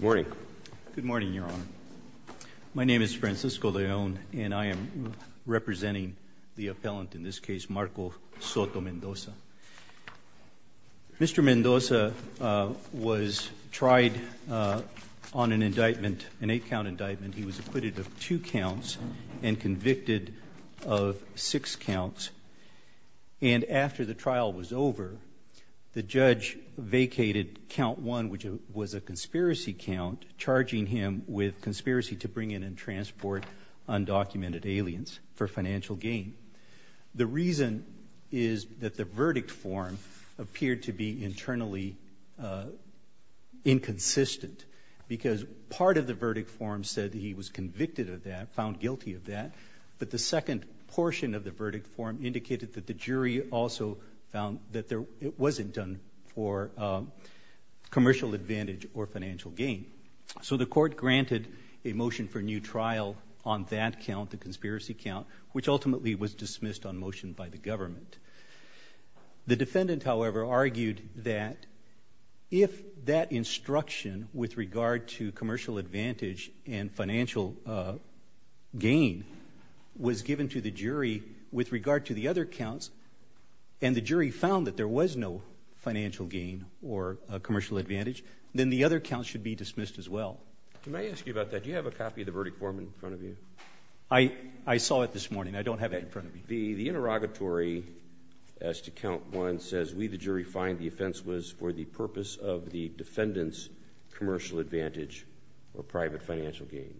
Good morning, Your Honor. My name is Francisco León and I am representing the appellant in this case, Marcos Soto-Mendoza. Mr. Mendoza was tried on an indictment, an eight-count indictment. He was acquitted of two counts and convicted of six counts. And after the conspiracy count, charging him with conspiracy to bring in and transport undocumented aliens for financial gain. The reason is that the verdict form appeared to be internally inconsistent because part of the verdict form said he was convicted of that, found guilty of that, but the second portion of the verdict form indicated that the jury also found that it wasn't done for commercial advantage or financial gain. So the court granted a motion for new trial on that count, the conspiracy count, which ultimately was dismissed on motion by the government. The defendant, however, argued that if that instruction with regard to commercial advantage and financial gain was given to the jury with regard to the other counts and the jury found that there was no financial gain or commercial advantage, then the other counts should be dismissed as well. Can I ask you about that? Do you have a copy of the verdict form in front of you? I saw it this morning. I don't have it in front of me. The interrogatory, as to count one, says we, the jury, find the offense was for the purpose of the defendant's commercial advantage or private financial gain.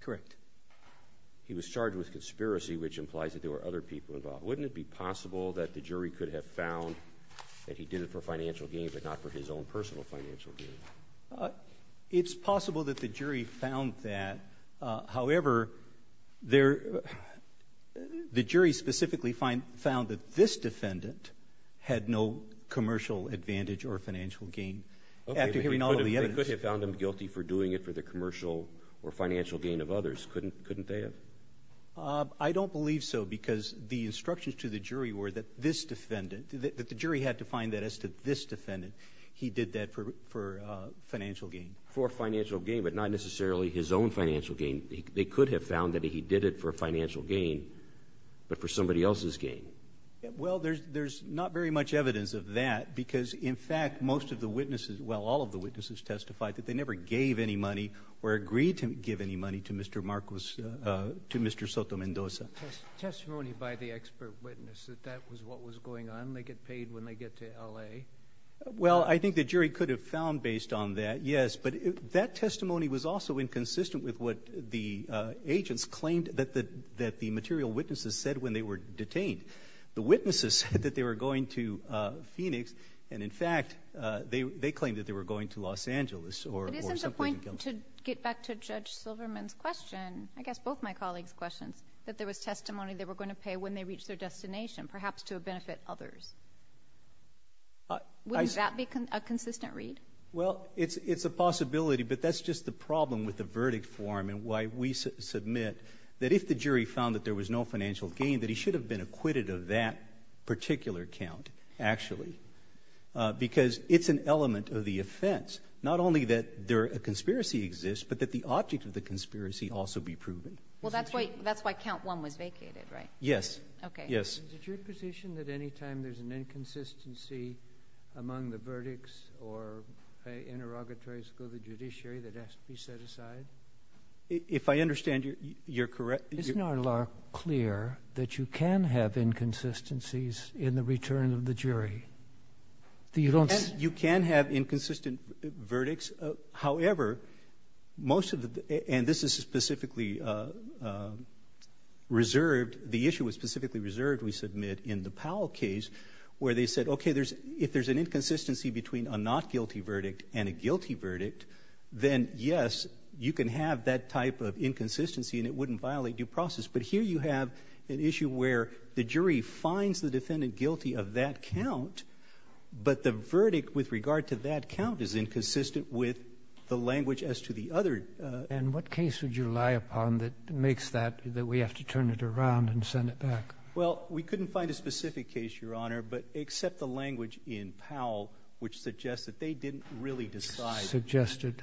Correct. He was charged with conspiracy, which implies that there were other people involved. Wouldn't it be possible that the jury could have found that he did it for financial gain but not for his own personal financial gain? It's possible that the jury found that. However, the jury specifically found that this defendant had no commercial advantage or financial gain after hearing all of the evidence. They could have found him guilty for doing it for the commercial or financial gain of others, couldn't they have? I don't believe so because the instructions to the jury were that this defendant, that the jury had to find that as to this defendant, he did that for financial gain. For financial gain, but not necessarily his own financial gain. They could have found that he did it for financial gain, but for somebody else's gain. Well, there's not very much evidence of that because, in fact, most of the witnesses, well, all of the witnesses testified that they never gave any money or agreed to give any money to Mr. Marcos, to Mr. Soto-Mendoza. Testimony by the expert witness that that was what was going on, they get paid when they get to L.A.? Well, I think the jury could have found based on that, yes, but that testimony was also inconsistent with what the agents claimed that the material witnesses said when they were detained. The witnesses said that they were going to Phoenix and, in fact, they claimed that they were going to Los Angeles or something. I'm going to get back to Judge Silverman's question, I guess both my colleagues' questions, that there was testimony they were going to pay when they reached their destination, perhaps to benefit others. Wouldn't that be a consistent read? Well, it's a possibility, but that's just the problem with the verdict form and why we submit that if the jury found that there was no financial gain, that he should have been acquitted of that particular count, actually, because it's an element of the offense, not only that a conspiracy exists, but that the object of the conspiracy also be proven. Well, that's why count one was vacated, right? Yes. Okay. Yes. Is the jury positioned that any time there's an inconsistency among the verdicts or interrogatories go to judiciary, that it has to be set aside? If I understand you, you're correct. Isn't our law clear that you can have inconsistencies in the return of the jury? You can have inconsistent verdicts. However, most of the, and this is specifically reserved, the issue was specifically reserved, we submit, in the Powell case, where they said, okay, if there's an inconsistency between a not guilty verdict and a guilty verdict, then yes, you can have that type of inconsistency and it wouldn't violate due process. But here you have an issue where the jury finds the defendant guilty of that count, but the verdict with regard to that count is inconsistent with the language as to the other. And what case would you rely upon that makes that, that we have to turn it around and send it back? Well, we couldn't find a specific case, Your Honor, but except the language in Powell, which suggests that they didn't really decide. Suggested.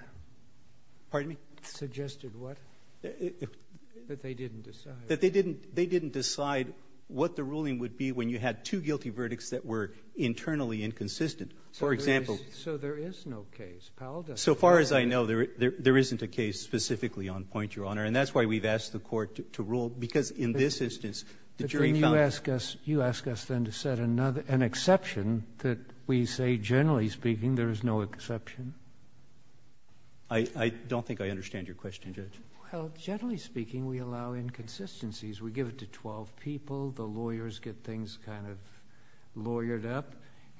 Pardon me? Suggested what? That they didn't decide. That they didn't decide what the ruling would be when you had two guilty verdicts that were internally inconsistent. For example... So there is no case. Powell doesn't... So far as I know, there isn't a case specifically on point, Your Honor, and that's why we've asked the court to rule, because in this instance, the jury found... You ask us then to set an exception that we say, generally speaking, there is no exception? I don't think I understand your question, Judge. Well, generally speaking, we allow inconsistencies. We give it to twelve people, the lawyers get things kind of lawyered up,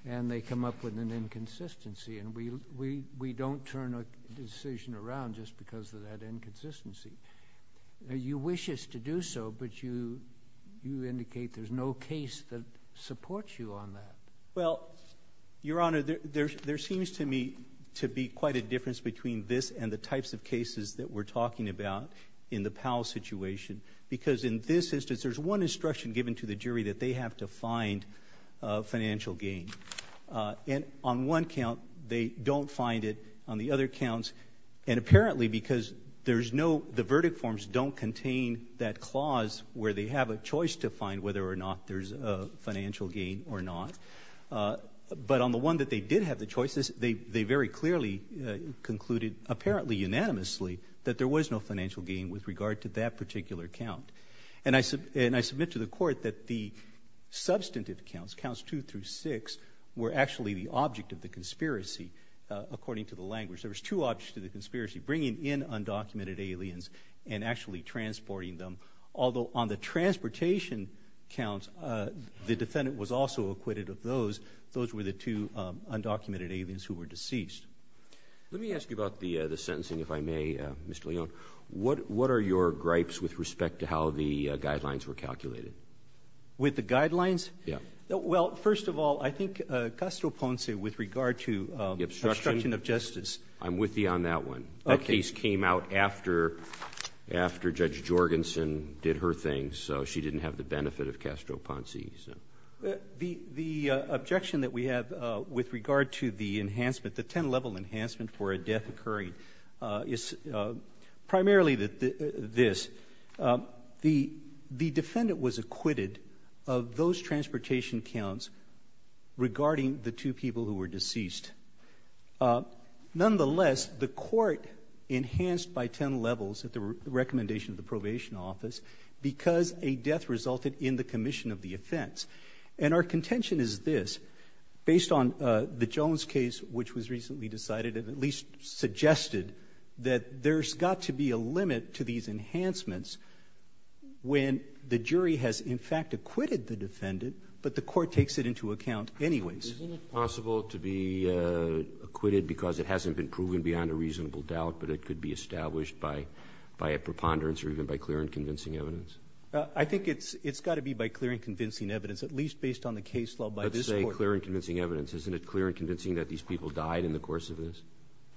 and they come up with an inconsistency, and we don't turn a decision around just because of that inconsistency. You wish us to do so, but you indicate there's no case that supports you on that. Well, Your Honor, there seems to me to be quite a difference between this and the types of cases that we're talking about in the Powell situation. Because in this instance, there's one instruction given to the jury that they have to find financial gain. And on one count, they don't find it. On the other counts, and apparently because there's no... The verdict forms don't contain that clause where they have a choice to find whether or not there's a financial gain or not. But on the one that they did have the choices, they very clearly concluded, apparently unanimously, that there was no financial gain with regard to that particular count. And I submit to the court that the substantive counts, counts two through six, were actually the object of the conspiracy, according to the language. There was two objects to the conspiracy, bringing in undocumented aliens and actually transporting them. Although on the transportation counts, the defendant was also acquitted of those. Those were the two undocumented aliens who were deceased. Let me ask you about the sentencing, if I may, Mr. Leon. What are your gripes with respect to how the guidelines were calculated? With the guidelines? Yeah. Well, first of all, I think Custo Ponce, with regard to obstruction of justice... I'm with you on that one. That case came out after Judge Jorgensen did her thing, so she didn't have the benefit of Custo Ponce. The objection that we have with regard to the enhancement, the 10-level enhancement for a death occurring, is primarily this. The defendant was acquitted of those transportation counts regarding the two people who were deceased. Nonetheless, the court enhanced by 10 levels at the recommendation of the probation office because a death resulted in the commission of the offense. Our contention is this. Based on the Jones case, which was recently decided, it at least suggested that there's got to be a limit to these enhancements when the jury has, in fact, acquitted the defendant, but the court takes it into account anyways. Isn't it possible to be acquitted because it hasn't been proven beyond a reasonable doubt, but it could be established by a preponderance or even by clear and convincing evidence? I think it's got to be by clear and convincing evidence, at least based on the case law by this court. Let's say clear and convincing evidence. Isn't it clear and convincing that these people died in the course of this?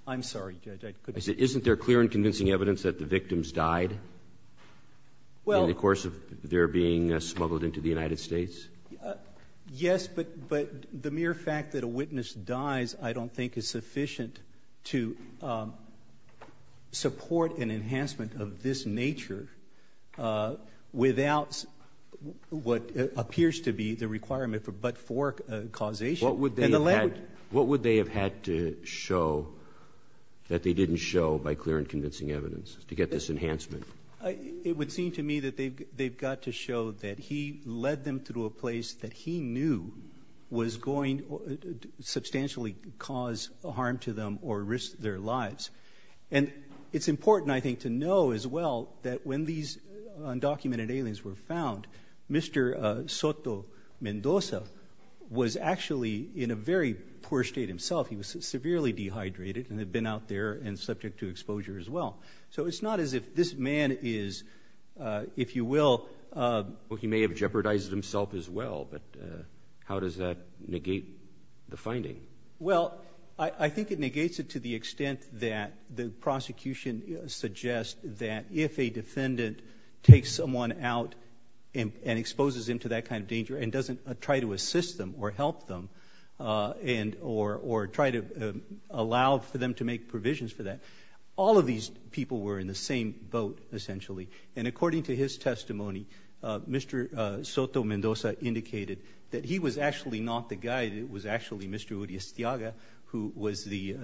I'm sorry, Judge. I said, isn't there clear and convincing evidence that the victims died in the course of their being smuggled into the United States? Yes, but the mere fact that a witness dies I don't think is sufficient to support an enhancement of this nature without what appears to be the requirement for but-for causation. What would they have had to show that they didn't show by clear and convincing evidence to get this enhancement? It would seem to me that they've got to show that he led them through a place that he knew was going to substantially cause harm to them or risk their lives. And it's important, I think, to know as well that when these undocumented aliens were found, Mr. Soto Mendoza was actually in a very poor state himself. He was severely dehydrated and had been out there and subject to exposure as well. So it's not as if this man is, if you will... Well, he may have jeopardized himself as well, but how does that negate the finding? Well, I think it negates it to the extent that the prosecution suggests that if a defendant takes someone out and exposes them to that kind of danger and doesn't try to assist them or help them and or try to allow for them to make provisions for that, all of these people were in the same boat, essentially. And according to his testimony, Mr. Soto Mendoza indicated that he was actually not the guide. It was actually Mr. Uri Estiaga who was the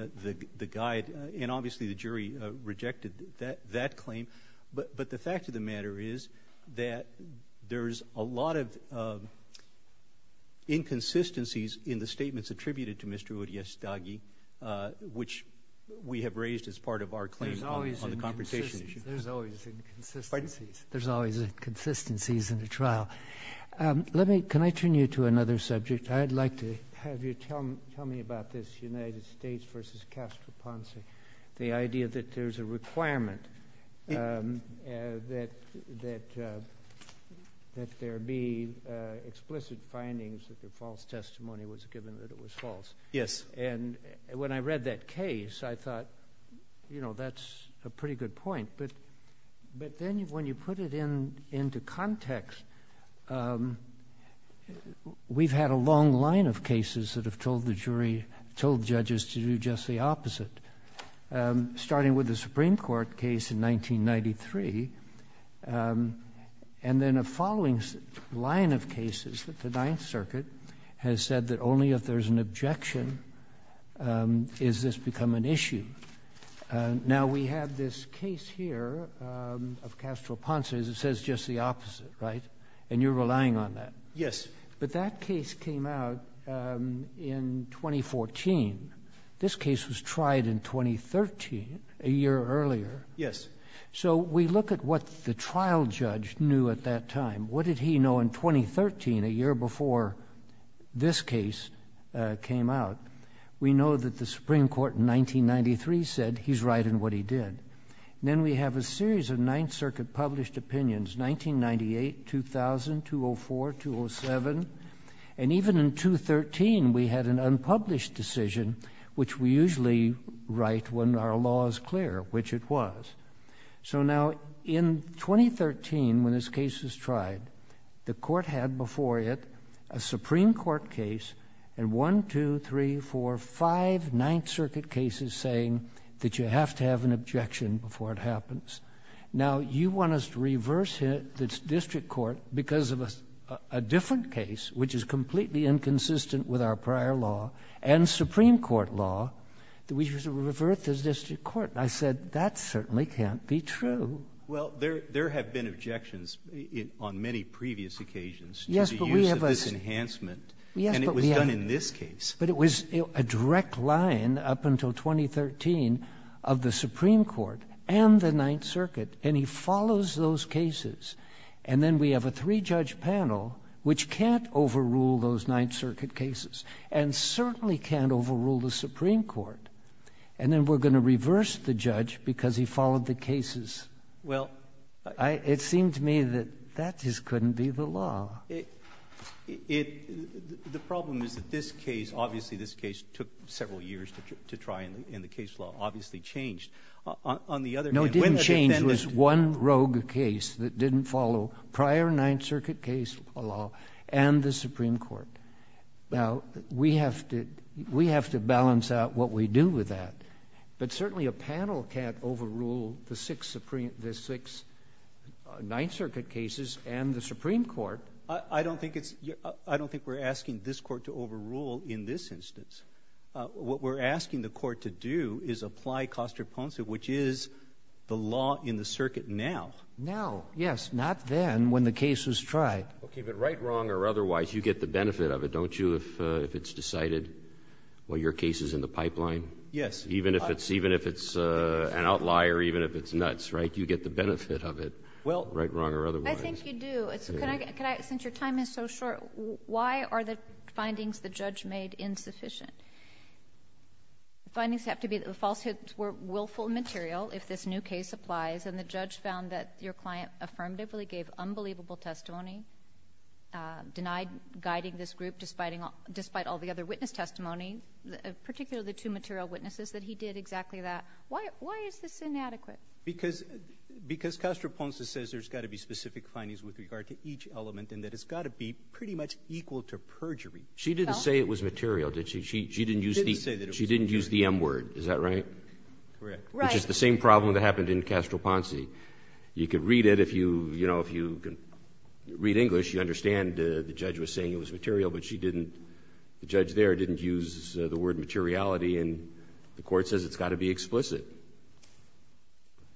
guide. And obviously the jury rejected that claim. But the fact of the matter is that there's a lot of inconsistencies in the statements attributed to Mr. Uri Estiaga, which we have raised as part of our claim on the confrontation issue. There's always inconsistencies. Pardon? There's always inconsistencies in a trial. Can I turn you to another subject? I'd like to have you tell me about this United States versus Castro Ponce, the idea that there's a requirement that there be explicit findings that the false testimony was given that it was false. Yes. And when I read that case, I thought, you know, that's a pretty good point. But then when you put it into context, we've had a long line of cases that have told the jury, told judges to do just the opposite. Starting with the Supreme Court case in 1993, and then a following line of cases that the Ninth Circuit has said that only if there's an objection is this become an issue. Now we have this case here of Castro Ponce that says just the opposite, right? And you're relying on that. Yes. But that case came out in 2014. This case was tried in 2013, a year earlier. Yes. So we look at what the trial judge knew at that time. What did he know in 2013, a year before this case came out? We know that the Supreme Court in 1993 said he's right in what he did. Then we have a series of Ninth Circuit published opinions, 1998, 2000, 204, 207. And even in 2013, we had an unpublished decision, which we usually write when our law is clear, which it was. So now in 2013, when this case was tried, the court had before it a Supreme Court case and one, two, three, four, five Ninth Circuit cases saying that you have to have an objection before it happens. Now you want us to reverse the district court because of a different case, which is completely inconsistent with our prior law and Supreme Court law, that we should revert the district court. I said, that certainly can't be true. Well there have been objections on many previous occasions to the use of this enhancement. And it was done in this case. But it was a direct line up until 2013 of the Supreme Court and the Ninth Circuit. And he follows those cases. And then we have a three-judge panel, which can't overrule those Ninth Circuit cases, and certainly can't overrule the Supreme Court. And then we're going to reverse the judge because he followed the cases. Well, it seemed to me that that just couldn't be the law. The problem is that this case, obviously this case took several years to try and the case law obviously changed. On the other hand, when the defendant... No, it didn't change. It was one rogue case that didn't follow prior Ninth Circuit case law and the Supreme Court. Now we have to balance out what we do with that. But certainly a panel can't overrule the six Ninth Circuit cases and the Supreme Court. I don't think we're asking this court to overrule in this instance. What we're asking the court to do is apply constipation, which is the law in the circuit now. Now. Yes. Not then when the case was tried. Okay. But right, wrong, or otherwise, you get the benefit of it, don't you, if it's decided what your case is in the pipeline? Yes. Even if it's an outlier, even if it's nuts, right? You get the benefit of it, right, wrong, or otherwise. Well, I think you do. Can I, since your time is so short, why are the findings the judge made insufficient? Findings have to be that the falsehoods were willful material if this new case applies and the judge found that your client affirmatively gave unbelievable testimony, denied guiding this group despite all the other witness testimony, particularly the two material witnesses that he did exactly that, why is this inadequate? Because Castro-Ponce says there's got to be specific findings with regard to each element and that it's got to be pretty much equal to perjury. She didn't say it was material, did she? She didn't use the M word, is that right? Correct. Which is the same problem that happened in Castro-Ponce. You could read it if you read English, you understand the judge was saying it was material but the judge there didn't use the word materiality and the court says it's got to be explicit.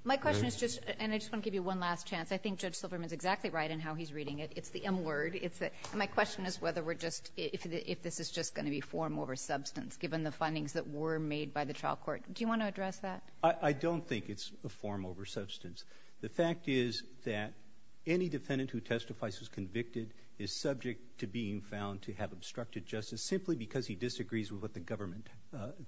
My question is just, and I just want to give you one last chance. I think Judge Silverman is exactly right in how he's reading it. It's the M word. My question is whether we're just, if this is just going to be form over substance given the findings that were made by the trial court. Do you want to address that? I don't think it's a form over substance. The fact is that any defendant who testifies who's convicted is subject to being found to have obstructed justice simply because he disagrees with what the government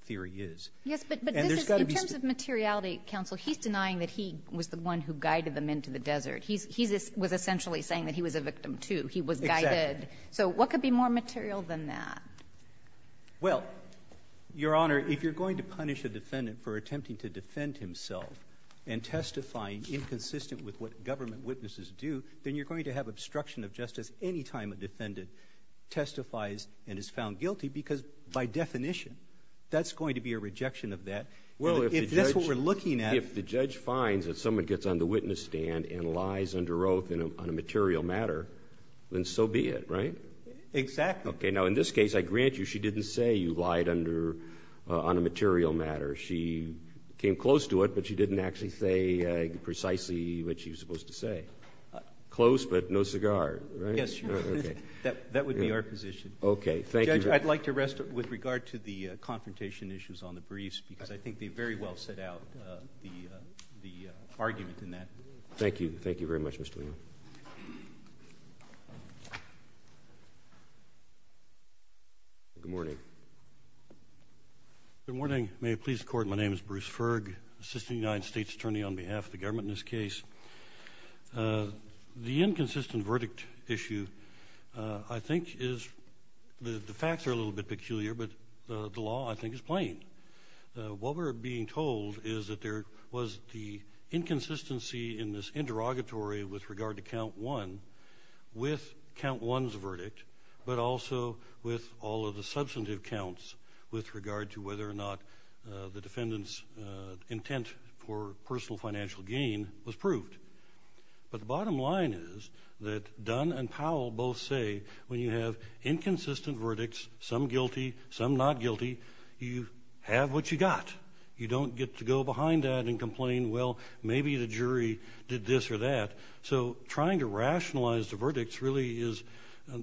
theory is. Yes, but in terms of materiality counsel, he's denying that he was the one who guided them into the desert. He was essentially saying that he was a victim too. He was guided. Exactly. So what could be more material than that? Well, Your Honor, if you're going to punish a defendant for attempting to defend himself and testifying inconsistent with what government witnesses do, then you're going to have obstruction of justice anytime a defendant testifies and is found guilty because by definition that's going to be a rejection of that. Well, if that's what we're looking at, if the judge finds that someone gets on the witness stand and lies under oath on a material matter, then so be it, right? Exactly. Okay, now in this case, I grant you she didn't say you lied under, on a material matter. She came close to it, but she didn't actually say precisely what she was supposed to say. Close but no cigar. Right? Yes, Your Honor. That would be our position. Okay. Thank you. Judge, I'd like to rest with regard to the confrontation issues on the briefs because I think they very well set out the argument in that. Thank you. Thank you very much, Mr. Leon. Good morning. Good morning. May it please the Court, my name is Bruce Ferg, Assistant United States Attorney on behalf of the government in this case. The inconsistent verdict issue I think is, the facts are a little bit peculiar, but the law I think is plain. What we're being told is that there was the inconsistency in this interrogatory with regard to count one, with count one's verdict, but also with all of the substantive counts with regard to whether or not the defendant's intent for personal financial gain was proved. But the bottom line is that Dunn and Powell both say when you have inconsistent verdicts, some guilty, some not guilty, you have what you got. You don't get to go behind that and complain, well, maybe the jury did this or that. So trying to rationalize the verdicts really is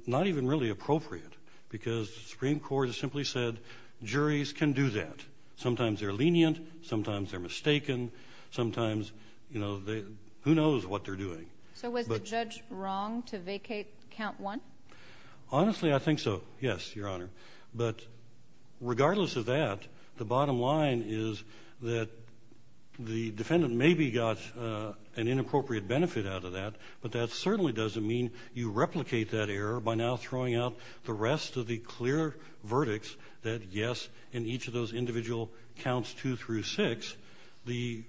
not even really appropriate because the Supreme Court has simply said, juries can do that. Sometimes they're lenient, sometimes they're mistaken, sometimes, you know, who knows what they're doing. So was the judge wrong to vacate count one? Honestly, I think so, yes, Your Honor. But regardless of that, the bottom line is that the defendant maybe got an inappropriate benefit out of that, but that certainly doesn't mean you replicate that error by now throwing out the rest of the clear verdicts that, yes, in each of those individual counts two through six, the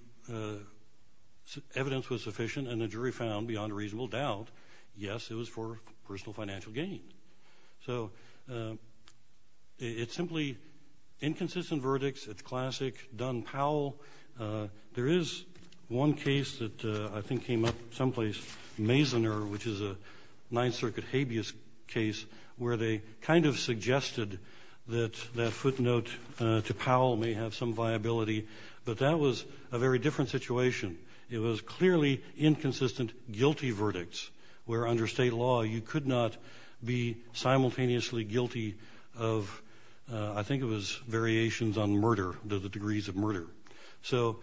evidence was sufficient and the jury found beyond a reasonable doubt, yes, it was for personal financial gain. So it's simply inconsistent verdicts, it's classic Dunn-Powell. There is one case that I think came up someplace, Mazener, which is a Ninth Circuit habeas case where they kind of suggested that that footnote to Powell may have some viability, but that was a very different situation. It was clearly inconsistent guilty verdicts where under state law you could not be simultaneously guilty of, I think it was variations on murder, the degrees of murder. So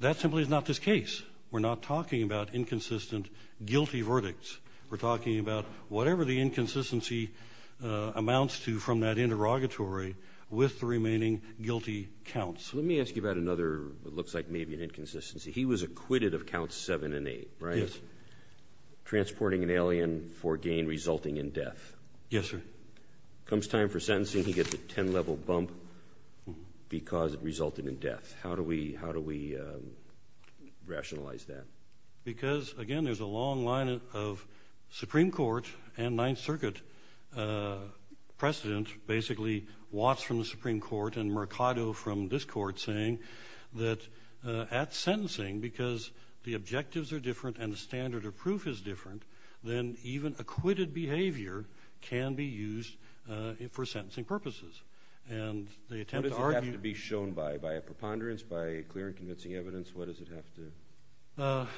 that simply is not this case. We're not talking about inconsistent guilty verdicts. We're talking about whatever the inconsistency amounts to from that interrogatory with the remaining guilty counts. Let me ask you about another, it looks like maybe an inconsistency. He was acquitted of counts seven and eight, right? Yes. Transporting an alien for gain resulting in death. Yes, sir. Comes time for sentencing, he gets a 10-level bump because it resulted in death. How do we rationalize that? Because again, there's a long line of Supreme Court and Ninth Circuit precedent, basically Watts from the Supreme Court and Mercado from this court saying that at sentencing, because the objectives are different and the standard of proof is different, then even acquitted behavior can be used for sentencing purposes. And they attempt to argue- What does it have to be shown by? By a preponderance? By clear and convincing evidence? What does it have to-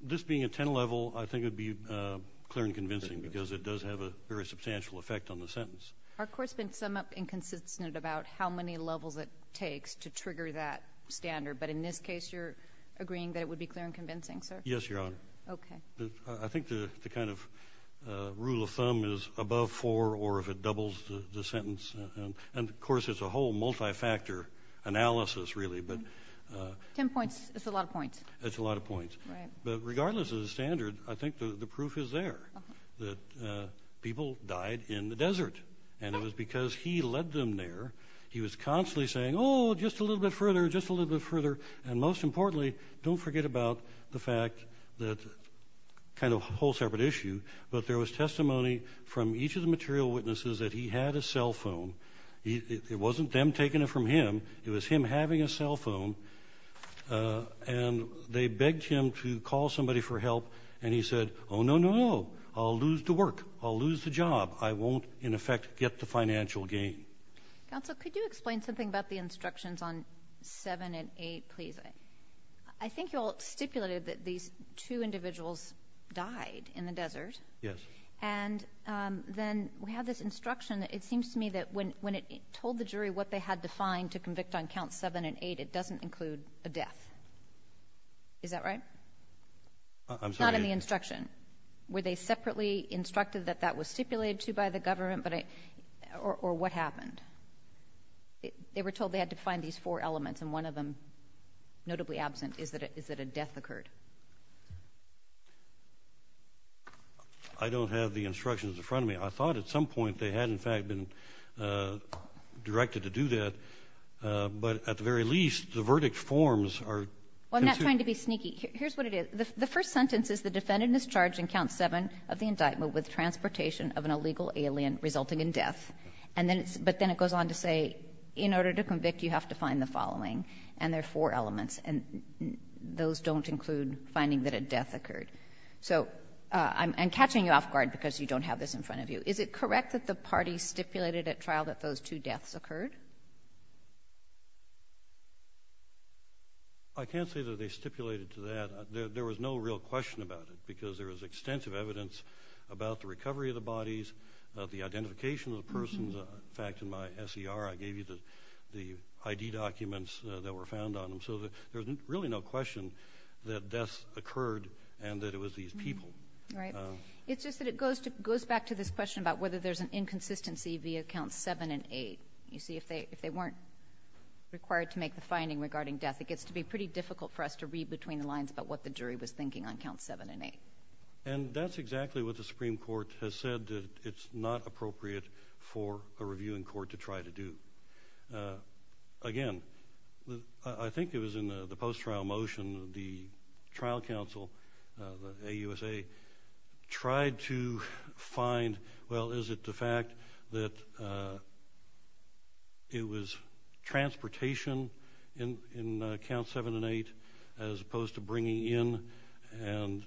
This being a 10-level, I think it would be clear and convincing because it does have a very substantial effect on the sentence. Our court's been somewhat inconsistent about how many levels it takes to trigger that standard. But in this case, you're agreeing that it would be clear and convincing, sir? Yes, Your Honor. Okay. I think the kind of rule of thumb is above four or if it doubles the sentence. And of course, it's a whole multi-factor analysis really, but- 10 points. That's a lot of points. That's a lot of points. Right. But regardless of the standard, I think the proof is there that people died in the desert. And it was because he led them there. He was constantly saying, oh, just a little bit further, just a little bit further. And most importantly, don't forget about the fact that- kind of a whole separate issue. But there was testimony from each of the material witnesses that he had a cell phone. It wasn't them taking it from him. It was him having a cell phone. And they begged him to call somebody for help. And he said, oh, no, no, no, I'll lose the work. I'll lose the job. I won't, in effect, get the financial gain. Counsel, could you explain something about the instructions on 7 and 8, please? I think you all stipulated that these two individuals died in the desert. Yes. And then we have this instruction. It seems to me that when it told the jury what they had to find to convict on counts 7 and 8, it doesn't include a death. Is that right? I'm sorry. Not in the instruction. Were they separately instructed that that was stipulated to by the government? Or what happened? They were told they had to find these four elements, and one of them, notably absent, is that a death occurred. I don't have the instructions in front of me. I thought at some point they had, in fact, been directed to do that. But at the very least, the verdict forms are- Well, I'm not trying to be sneaky. Here's what it is. The first sentence is, the defendant is charged in count 7 of the indictment with transportation of an illegal alien resulting in death. But then it goes on to say, in order to convict, you have to find the following. And there are four elements, and those don't include finding that a death occurred. So I'm catching you off guard because you don't have this in front of you. Is it correct that the parties stipulated at trial that those two deaths occurred? I can't say that they stipulated to that. There was no real question about it because there was extensive evidence about the recovery of the bodies, the identification of the persons. In fact, in my SER, I gave you the ID documents that were found on them. So there's really no question that deaths occurred and that it was these people. Right. It's just that it goes back to this question about whether there's an inconsistency via count 7 and 8. You see, if they weren't required to make the finding regarding death, it gets to be pretty difficult for us to read between the lines about what the jury was thinking on count 7 and 8. And that's exactly what the Supreme Court has said that it's not appropriate for a reviewing court to try to do. Again, I think it was in the post-trial motion, the trial counsel, the AUSA, tried to find, well, is it the fact that it was transportation in count 7 and 8 as opposed to bringing in and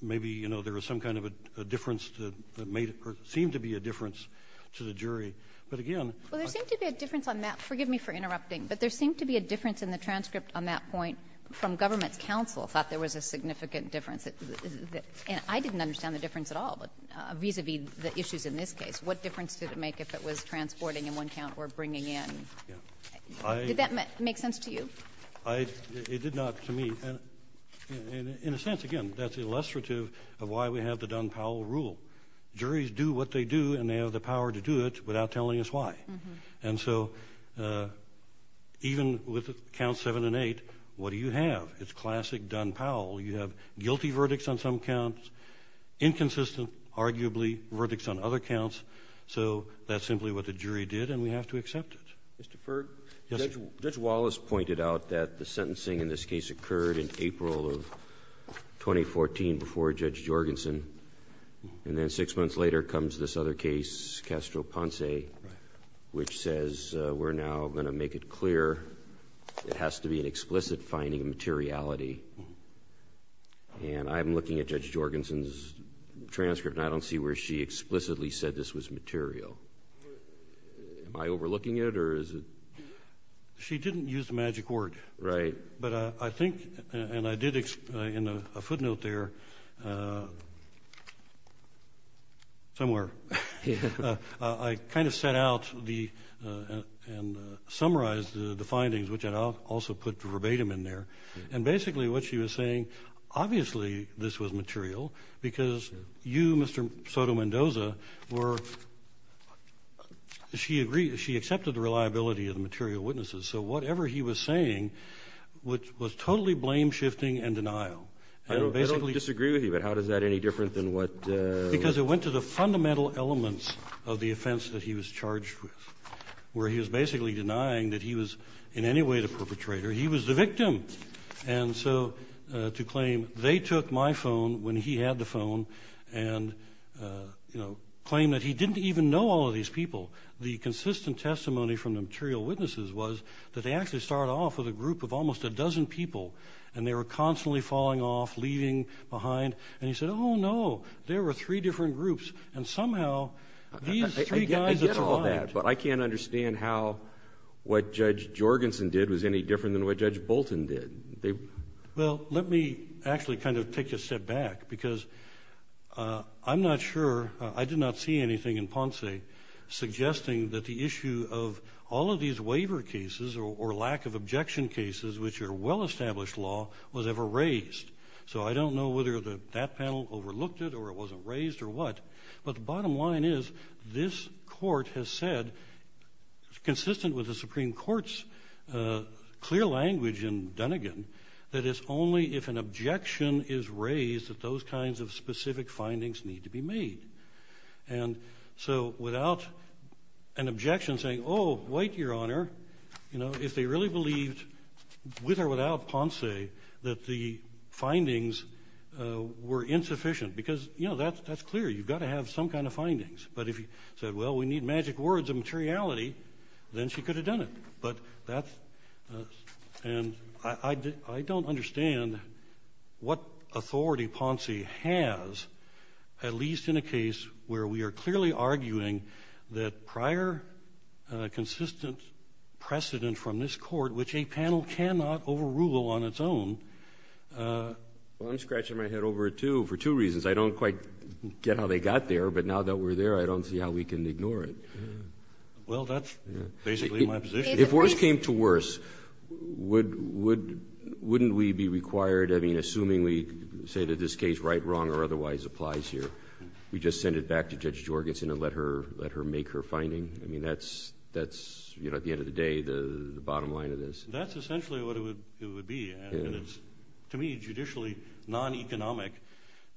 maybe there was some kind of a difference that seemed to be a difference to the jury. But again, Well, there seemed to be a difference on that. Forgive me for interrupting. But there seemed to be a difference in the transcript on that point from government counsel thought there was a significant difference. And I didn't understand the difference at all vis-a-vis the issues in this case. What difference did it make if it was transporting in one count or bringing in? Did that make sense to you? It did not to me. And in a sense, again, that's illustrative of why we have the Dunn-Powell rule. Juries do what they do, and they have the power to do it without telling us why. And so even with count 7 and 8, what do you have? It's classic Dunn-Powell. You have guilty verdicts on some counts, inconsistent, arguably, verdicts on other counts. So that's simply what the jury did, and we have to accept it. Mr. Ferg? Yes, sir. Judge Wallace pointed out that the sentencing in this case occurred in April of 2014 before Judge Jorgensen. And then six months later comes this other case, Castro-Ponce, which says we're now going to make it clear it has to be an explicit finding of materiality. And I'm looking at Judge Jorgensen's transcript, and I don't see where she explicitly said this was material. Am I overlooking it, or is it? She didn't use the magic word. Right. But I think, and I did in a footnote there, somewhere, I kind of set out and summarized the findings, which I also put verbatim in there. And basically what she was saying, obviously this was material, because you, Mr. Sotomendoza, were, she agreed, she accepted the reliability of the material witnesses. So whatever he was saying was totally blame shifting and denial. I don't disagree with you, but how is that any different than what? Because it went to the fundamental elements of the offense that he was charged with, where he was basically denying that he was in any way the perpetrator. He was the victim. And so to claim they took my phone when he had the phone, and claim that he didn't even know all of these people. The consistent testimony from the material witnesses was that they actually started off with a group of almost a dozen people, and they were constantly falling off, leaving behind. And he said, oh, no, there were three different groups. And somehow, these three guys that survived. I get all that. But I can't understand how what Judge Jorgensen did was any different than what Judge Bolton did. Well, let me actually kind of take a step back, because I'm not sure. I did not see anything in Ponce suggesting that the issue of all of these waiver cases, or lack of objection cases, which are well-established law, was ever raised. So I don't know whether that panel overlooked it, or it wasn't raised, or what. But the bottom line is, this court has said, consistent with the Supreme Court's clear language in Dunnegan, that it's only if an objection is raised that those kinds of specific findings need to be made. And so without an objection saying, oh, wait, Your Honor, if they really believed, with or without Ponce, that the findings were insufficient. Because that's clear. You've got to have some kind of findings. But if you said, well, we need magic words of materiality, then she could have done it. And I don't understand what authority Ponce has, at least in a case where we are clearly arguing that prior consistent precedent from this court, which a panel cannot overrule on its own. Well, I'm scratching my head over it, too, for two reasons. I don't quite get how they got there. But now that we're there, I don't see how we can ignore it. Well, that's basically my position. If worse came to worse, wouldn't we be required, I mean, assuming we say that this case right, wrong, or otherwise applies here, we just send it back to Judge Jorgensen and let her make her finding? I mean, that's, at the end of the day, the bottom line of this. That's essentially what it would be. To me, it's judicially non-economic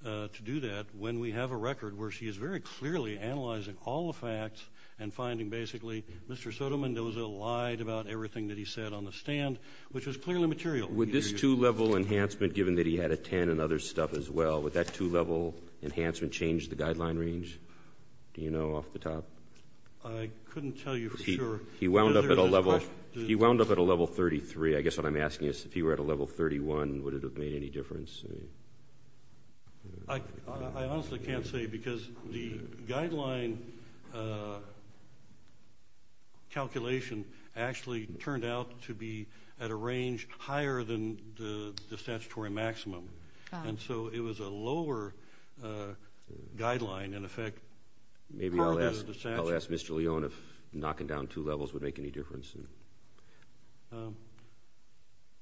to do that when we have a record where she is very clearly analyzing all the facts and finding basically, Mr. Soderman, there was a lie about everything that he said on the stand, which was clearly material. Would this two-level enhancement, given that he had a 10 and other stuff as well, would that two-level enhancement change the guideline range? Do you know off the top? I couldn't tell you for sure. He wound up at a level 33. I guess what I'm asking is, if he were at a level 31, would it have made any difference? I honestly can't say, because the guideline calculation actually turned out to be at a range higher than the statutory maximum. And so it was a lower guideline, in effect. Maybe I'll ask Mr. Leone if knocking down two levels would make any difference.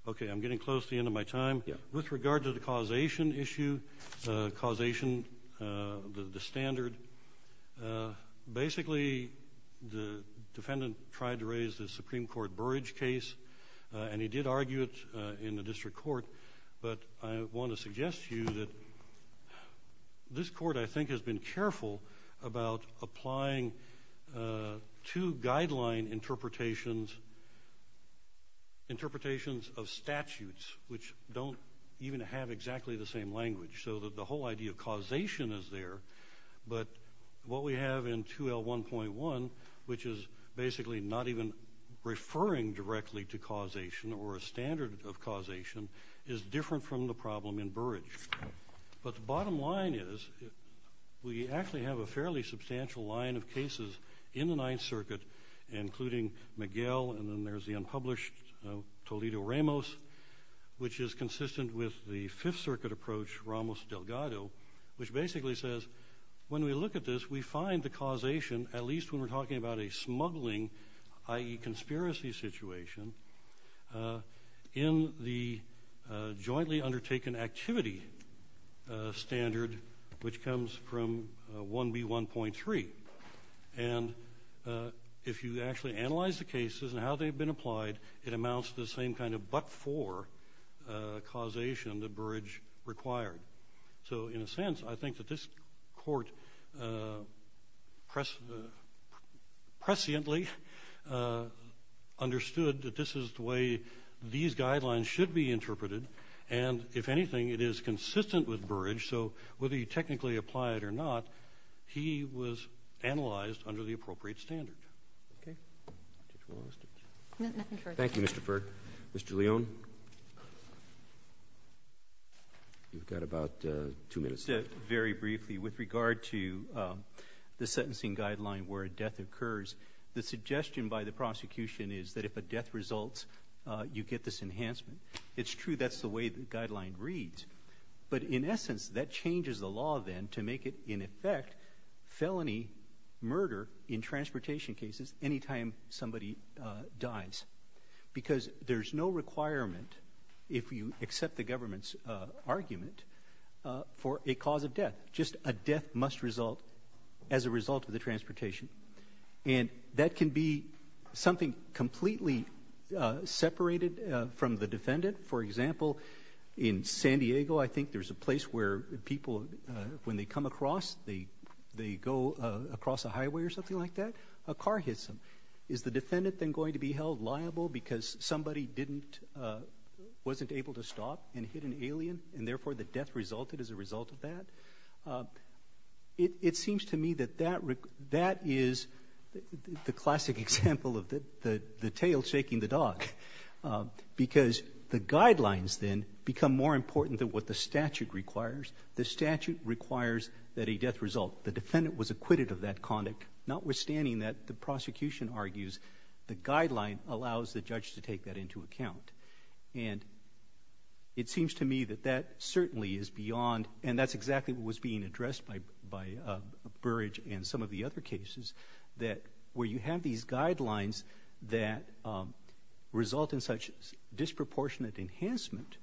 OK, I'm getting close to the end of my time. With regard to the causation issue, causation, the standard, basically, the defendant tried to raise the Supreme Court Burrage case, and he did argue it in the district court. But I want to suggest to you that this court, I think, has been careful about applying two guideline interpretations of statutes, which don't even have exactly the same language. So that the whole idea of causation is there. But what we have in 2L1.1, which is basically not even referring directly to causation or a standard of causation, is different from the problem in Burrage. But the bottom line is, we actually have a fairly substantial line of cases in the Ninth Circuit, including Miguel, and then there's the unpublished Toledo-Ramos, which is consistent with the Fifth Circuit approach, Ramos-Delgado, which basically says, when we look at this, we find the causation, at least when we're talking about a smuggling, i.e. conspiracy situation, in the jointly undertaken activity standard, which comes from 1B1.3. And if you actually analyze the cases and how they've been applied, it amounts to the same kind of but-for causation that Burrage required. So in a sense, I think that this court presciently understood that this is the way these guidelines should be interpreted. And if anything, it is consistent with Burrage. So whether you technically apply it or not, he was analyzed under the appropriate standard. Thank you, Mr. Furr. Mr. Leone, you've got about two minutes left. Very briefly, with regard to the sentencing guideline where a death occurs, the suggestion by the prosecution is that if a death results, you get this enhancement. It's true that's the way the guideline reads. But in essence, that changes the law then to make it, in effect, felony murder in transportation cases anytime somebody dies. Because there's no requirement, if you accept the government's argument, for a cause of death. Just a death must result as a result of the transportation. And that can be something completely separated For example, in San Diego, I think they come across, they go across a highway or something like that, a car hits them. Is the defendant then going to be held liable because somebody wasn't able to stop and hit an alien, and therefore the death resulted as a result of that? It seems to me that that is the classic example of the tail shaking the dog. Because the guidelines then become more important than what the statute requires. The statute requires that a death result. The defendant was acquitted of that conduct, notwithstanding that the prosecution argues the guideline allows the judge to take that into account. And it seems to me that that certainly is beyond, and that's exactly what was being addressed by Burrage and some of the other cases, that where you have these guidelines that result in such disproportionate enhancement,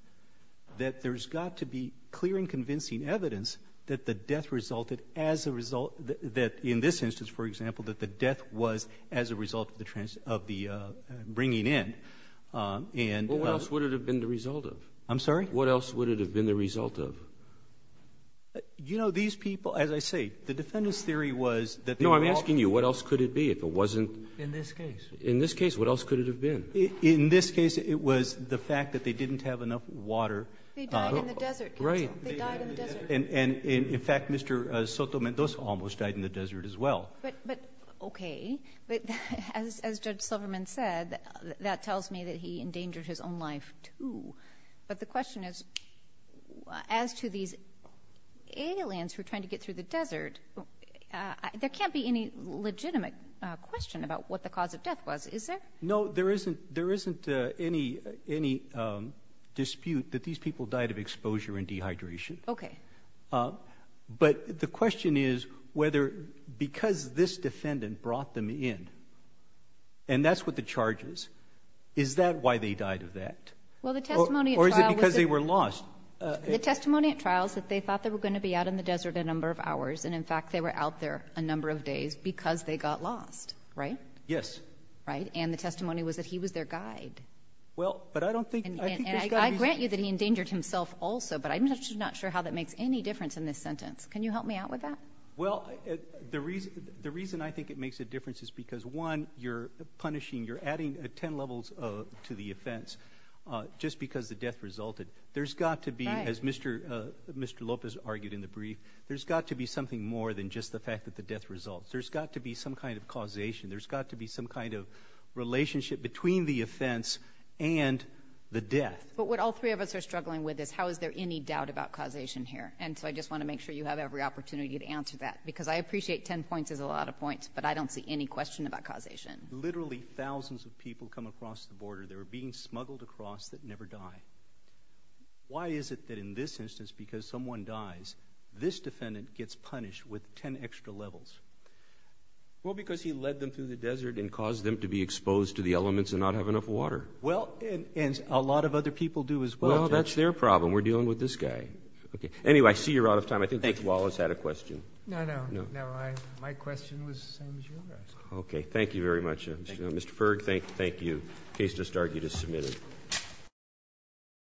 that there's got to be clear and convincing evidence that the death resulted as a result, that in this instance, for example, that the death was as a result of the bringing in. And what else would it have been the result of? I'm sorry? What else would it have been the result of? You know, these people, as I say, the defendant's theory was that they were all No, I'm asking you, what else could it be if it wasn't? In this case. In this case, what else could it have been? In this case, it was the fact that they didn't have enough water. They died in the desert, counsel. They died in the desert. And in fact, Mr. Sotomayor almost died in the desert as well. But OK, but as Judge Silverman said, that tells me that he endangered his own life too. But the question is, as to these aliens who are trying to get through the desert, there can't be any legitimate question about what the cause of death was, is there? No, there isn't any dispute that these people died of exposure and dehydration. OK. But the question is whether because this defendant brought them in, and that's what the charge is, is that why they died of that? Well, the testimony at trial was that Or is it because they were lost? The testimony at trial is that they thought they were going to be out in the desert a number of hours. And in fact, they were out there a number of days because they got lost, right? Yes. Right, and the testimony was that he was their guide. Well, but I don't think there's got to be. I grant you that he endangered himself also, but I'm just not sure how that makes any difference in this sentence. Can you help me out with that? Well, the reason I think it makes a difference is because one, you're punishing, you're adding 10 levels to the offense just because the death resulted. There's got to be, as Mr. Lopez argued in the brief, there's got to be something more than just the fact that the death results. There's got to be some kind of causation. There's got to be some kind of relationship between the offense and the death. But what all three of us are struggling with is how is there any doubt about causation here? And so I just want to make sure you have every opportunity to answer that because I appreciate 10 points is a lot of points, but I don't see any question about causation. Literally thousands of people come across the border. They're being smuggled across that never die. Why is it that in this instance, because someone dies, this defendant gets punished with 10 extra levels? Well, because he led them through the desert and caused them to be exposed to the elements and not have enough water. Well, and a lot of other people do as well. Well, that's their problem. We're dealing with this guy. Anyway, I see you're out of time. I think Mr. Wallace had a question. No, no, no. My question was the same as yours. Okay, thank you very much. Mr. Ferg, thank you. Case to start, you just submitted.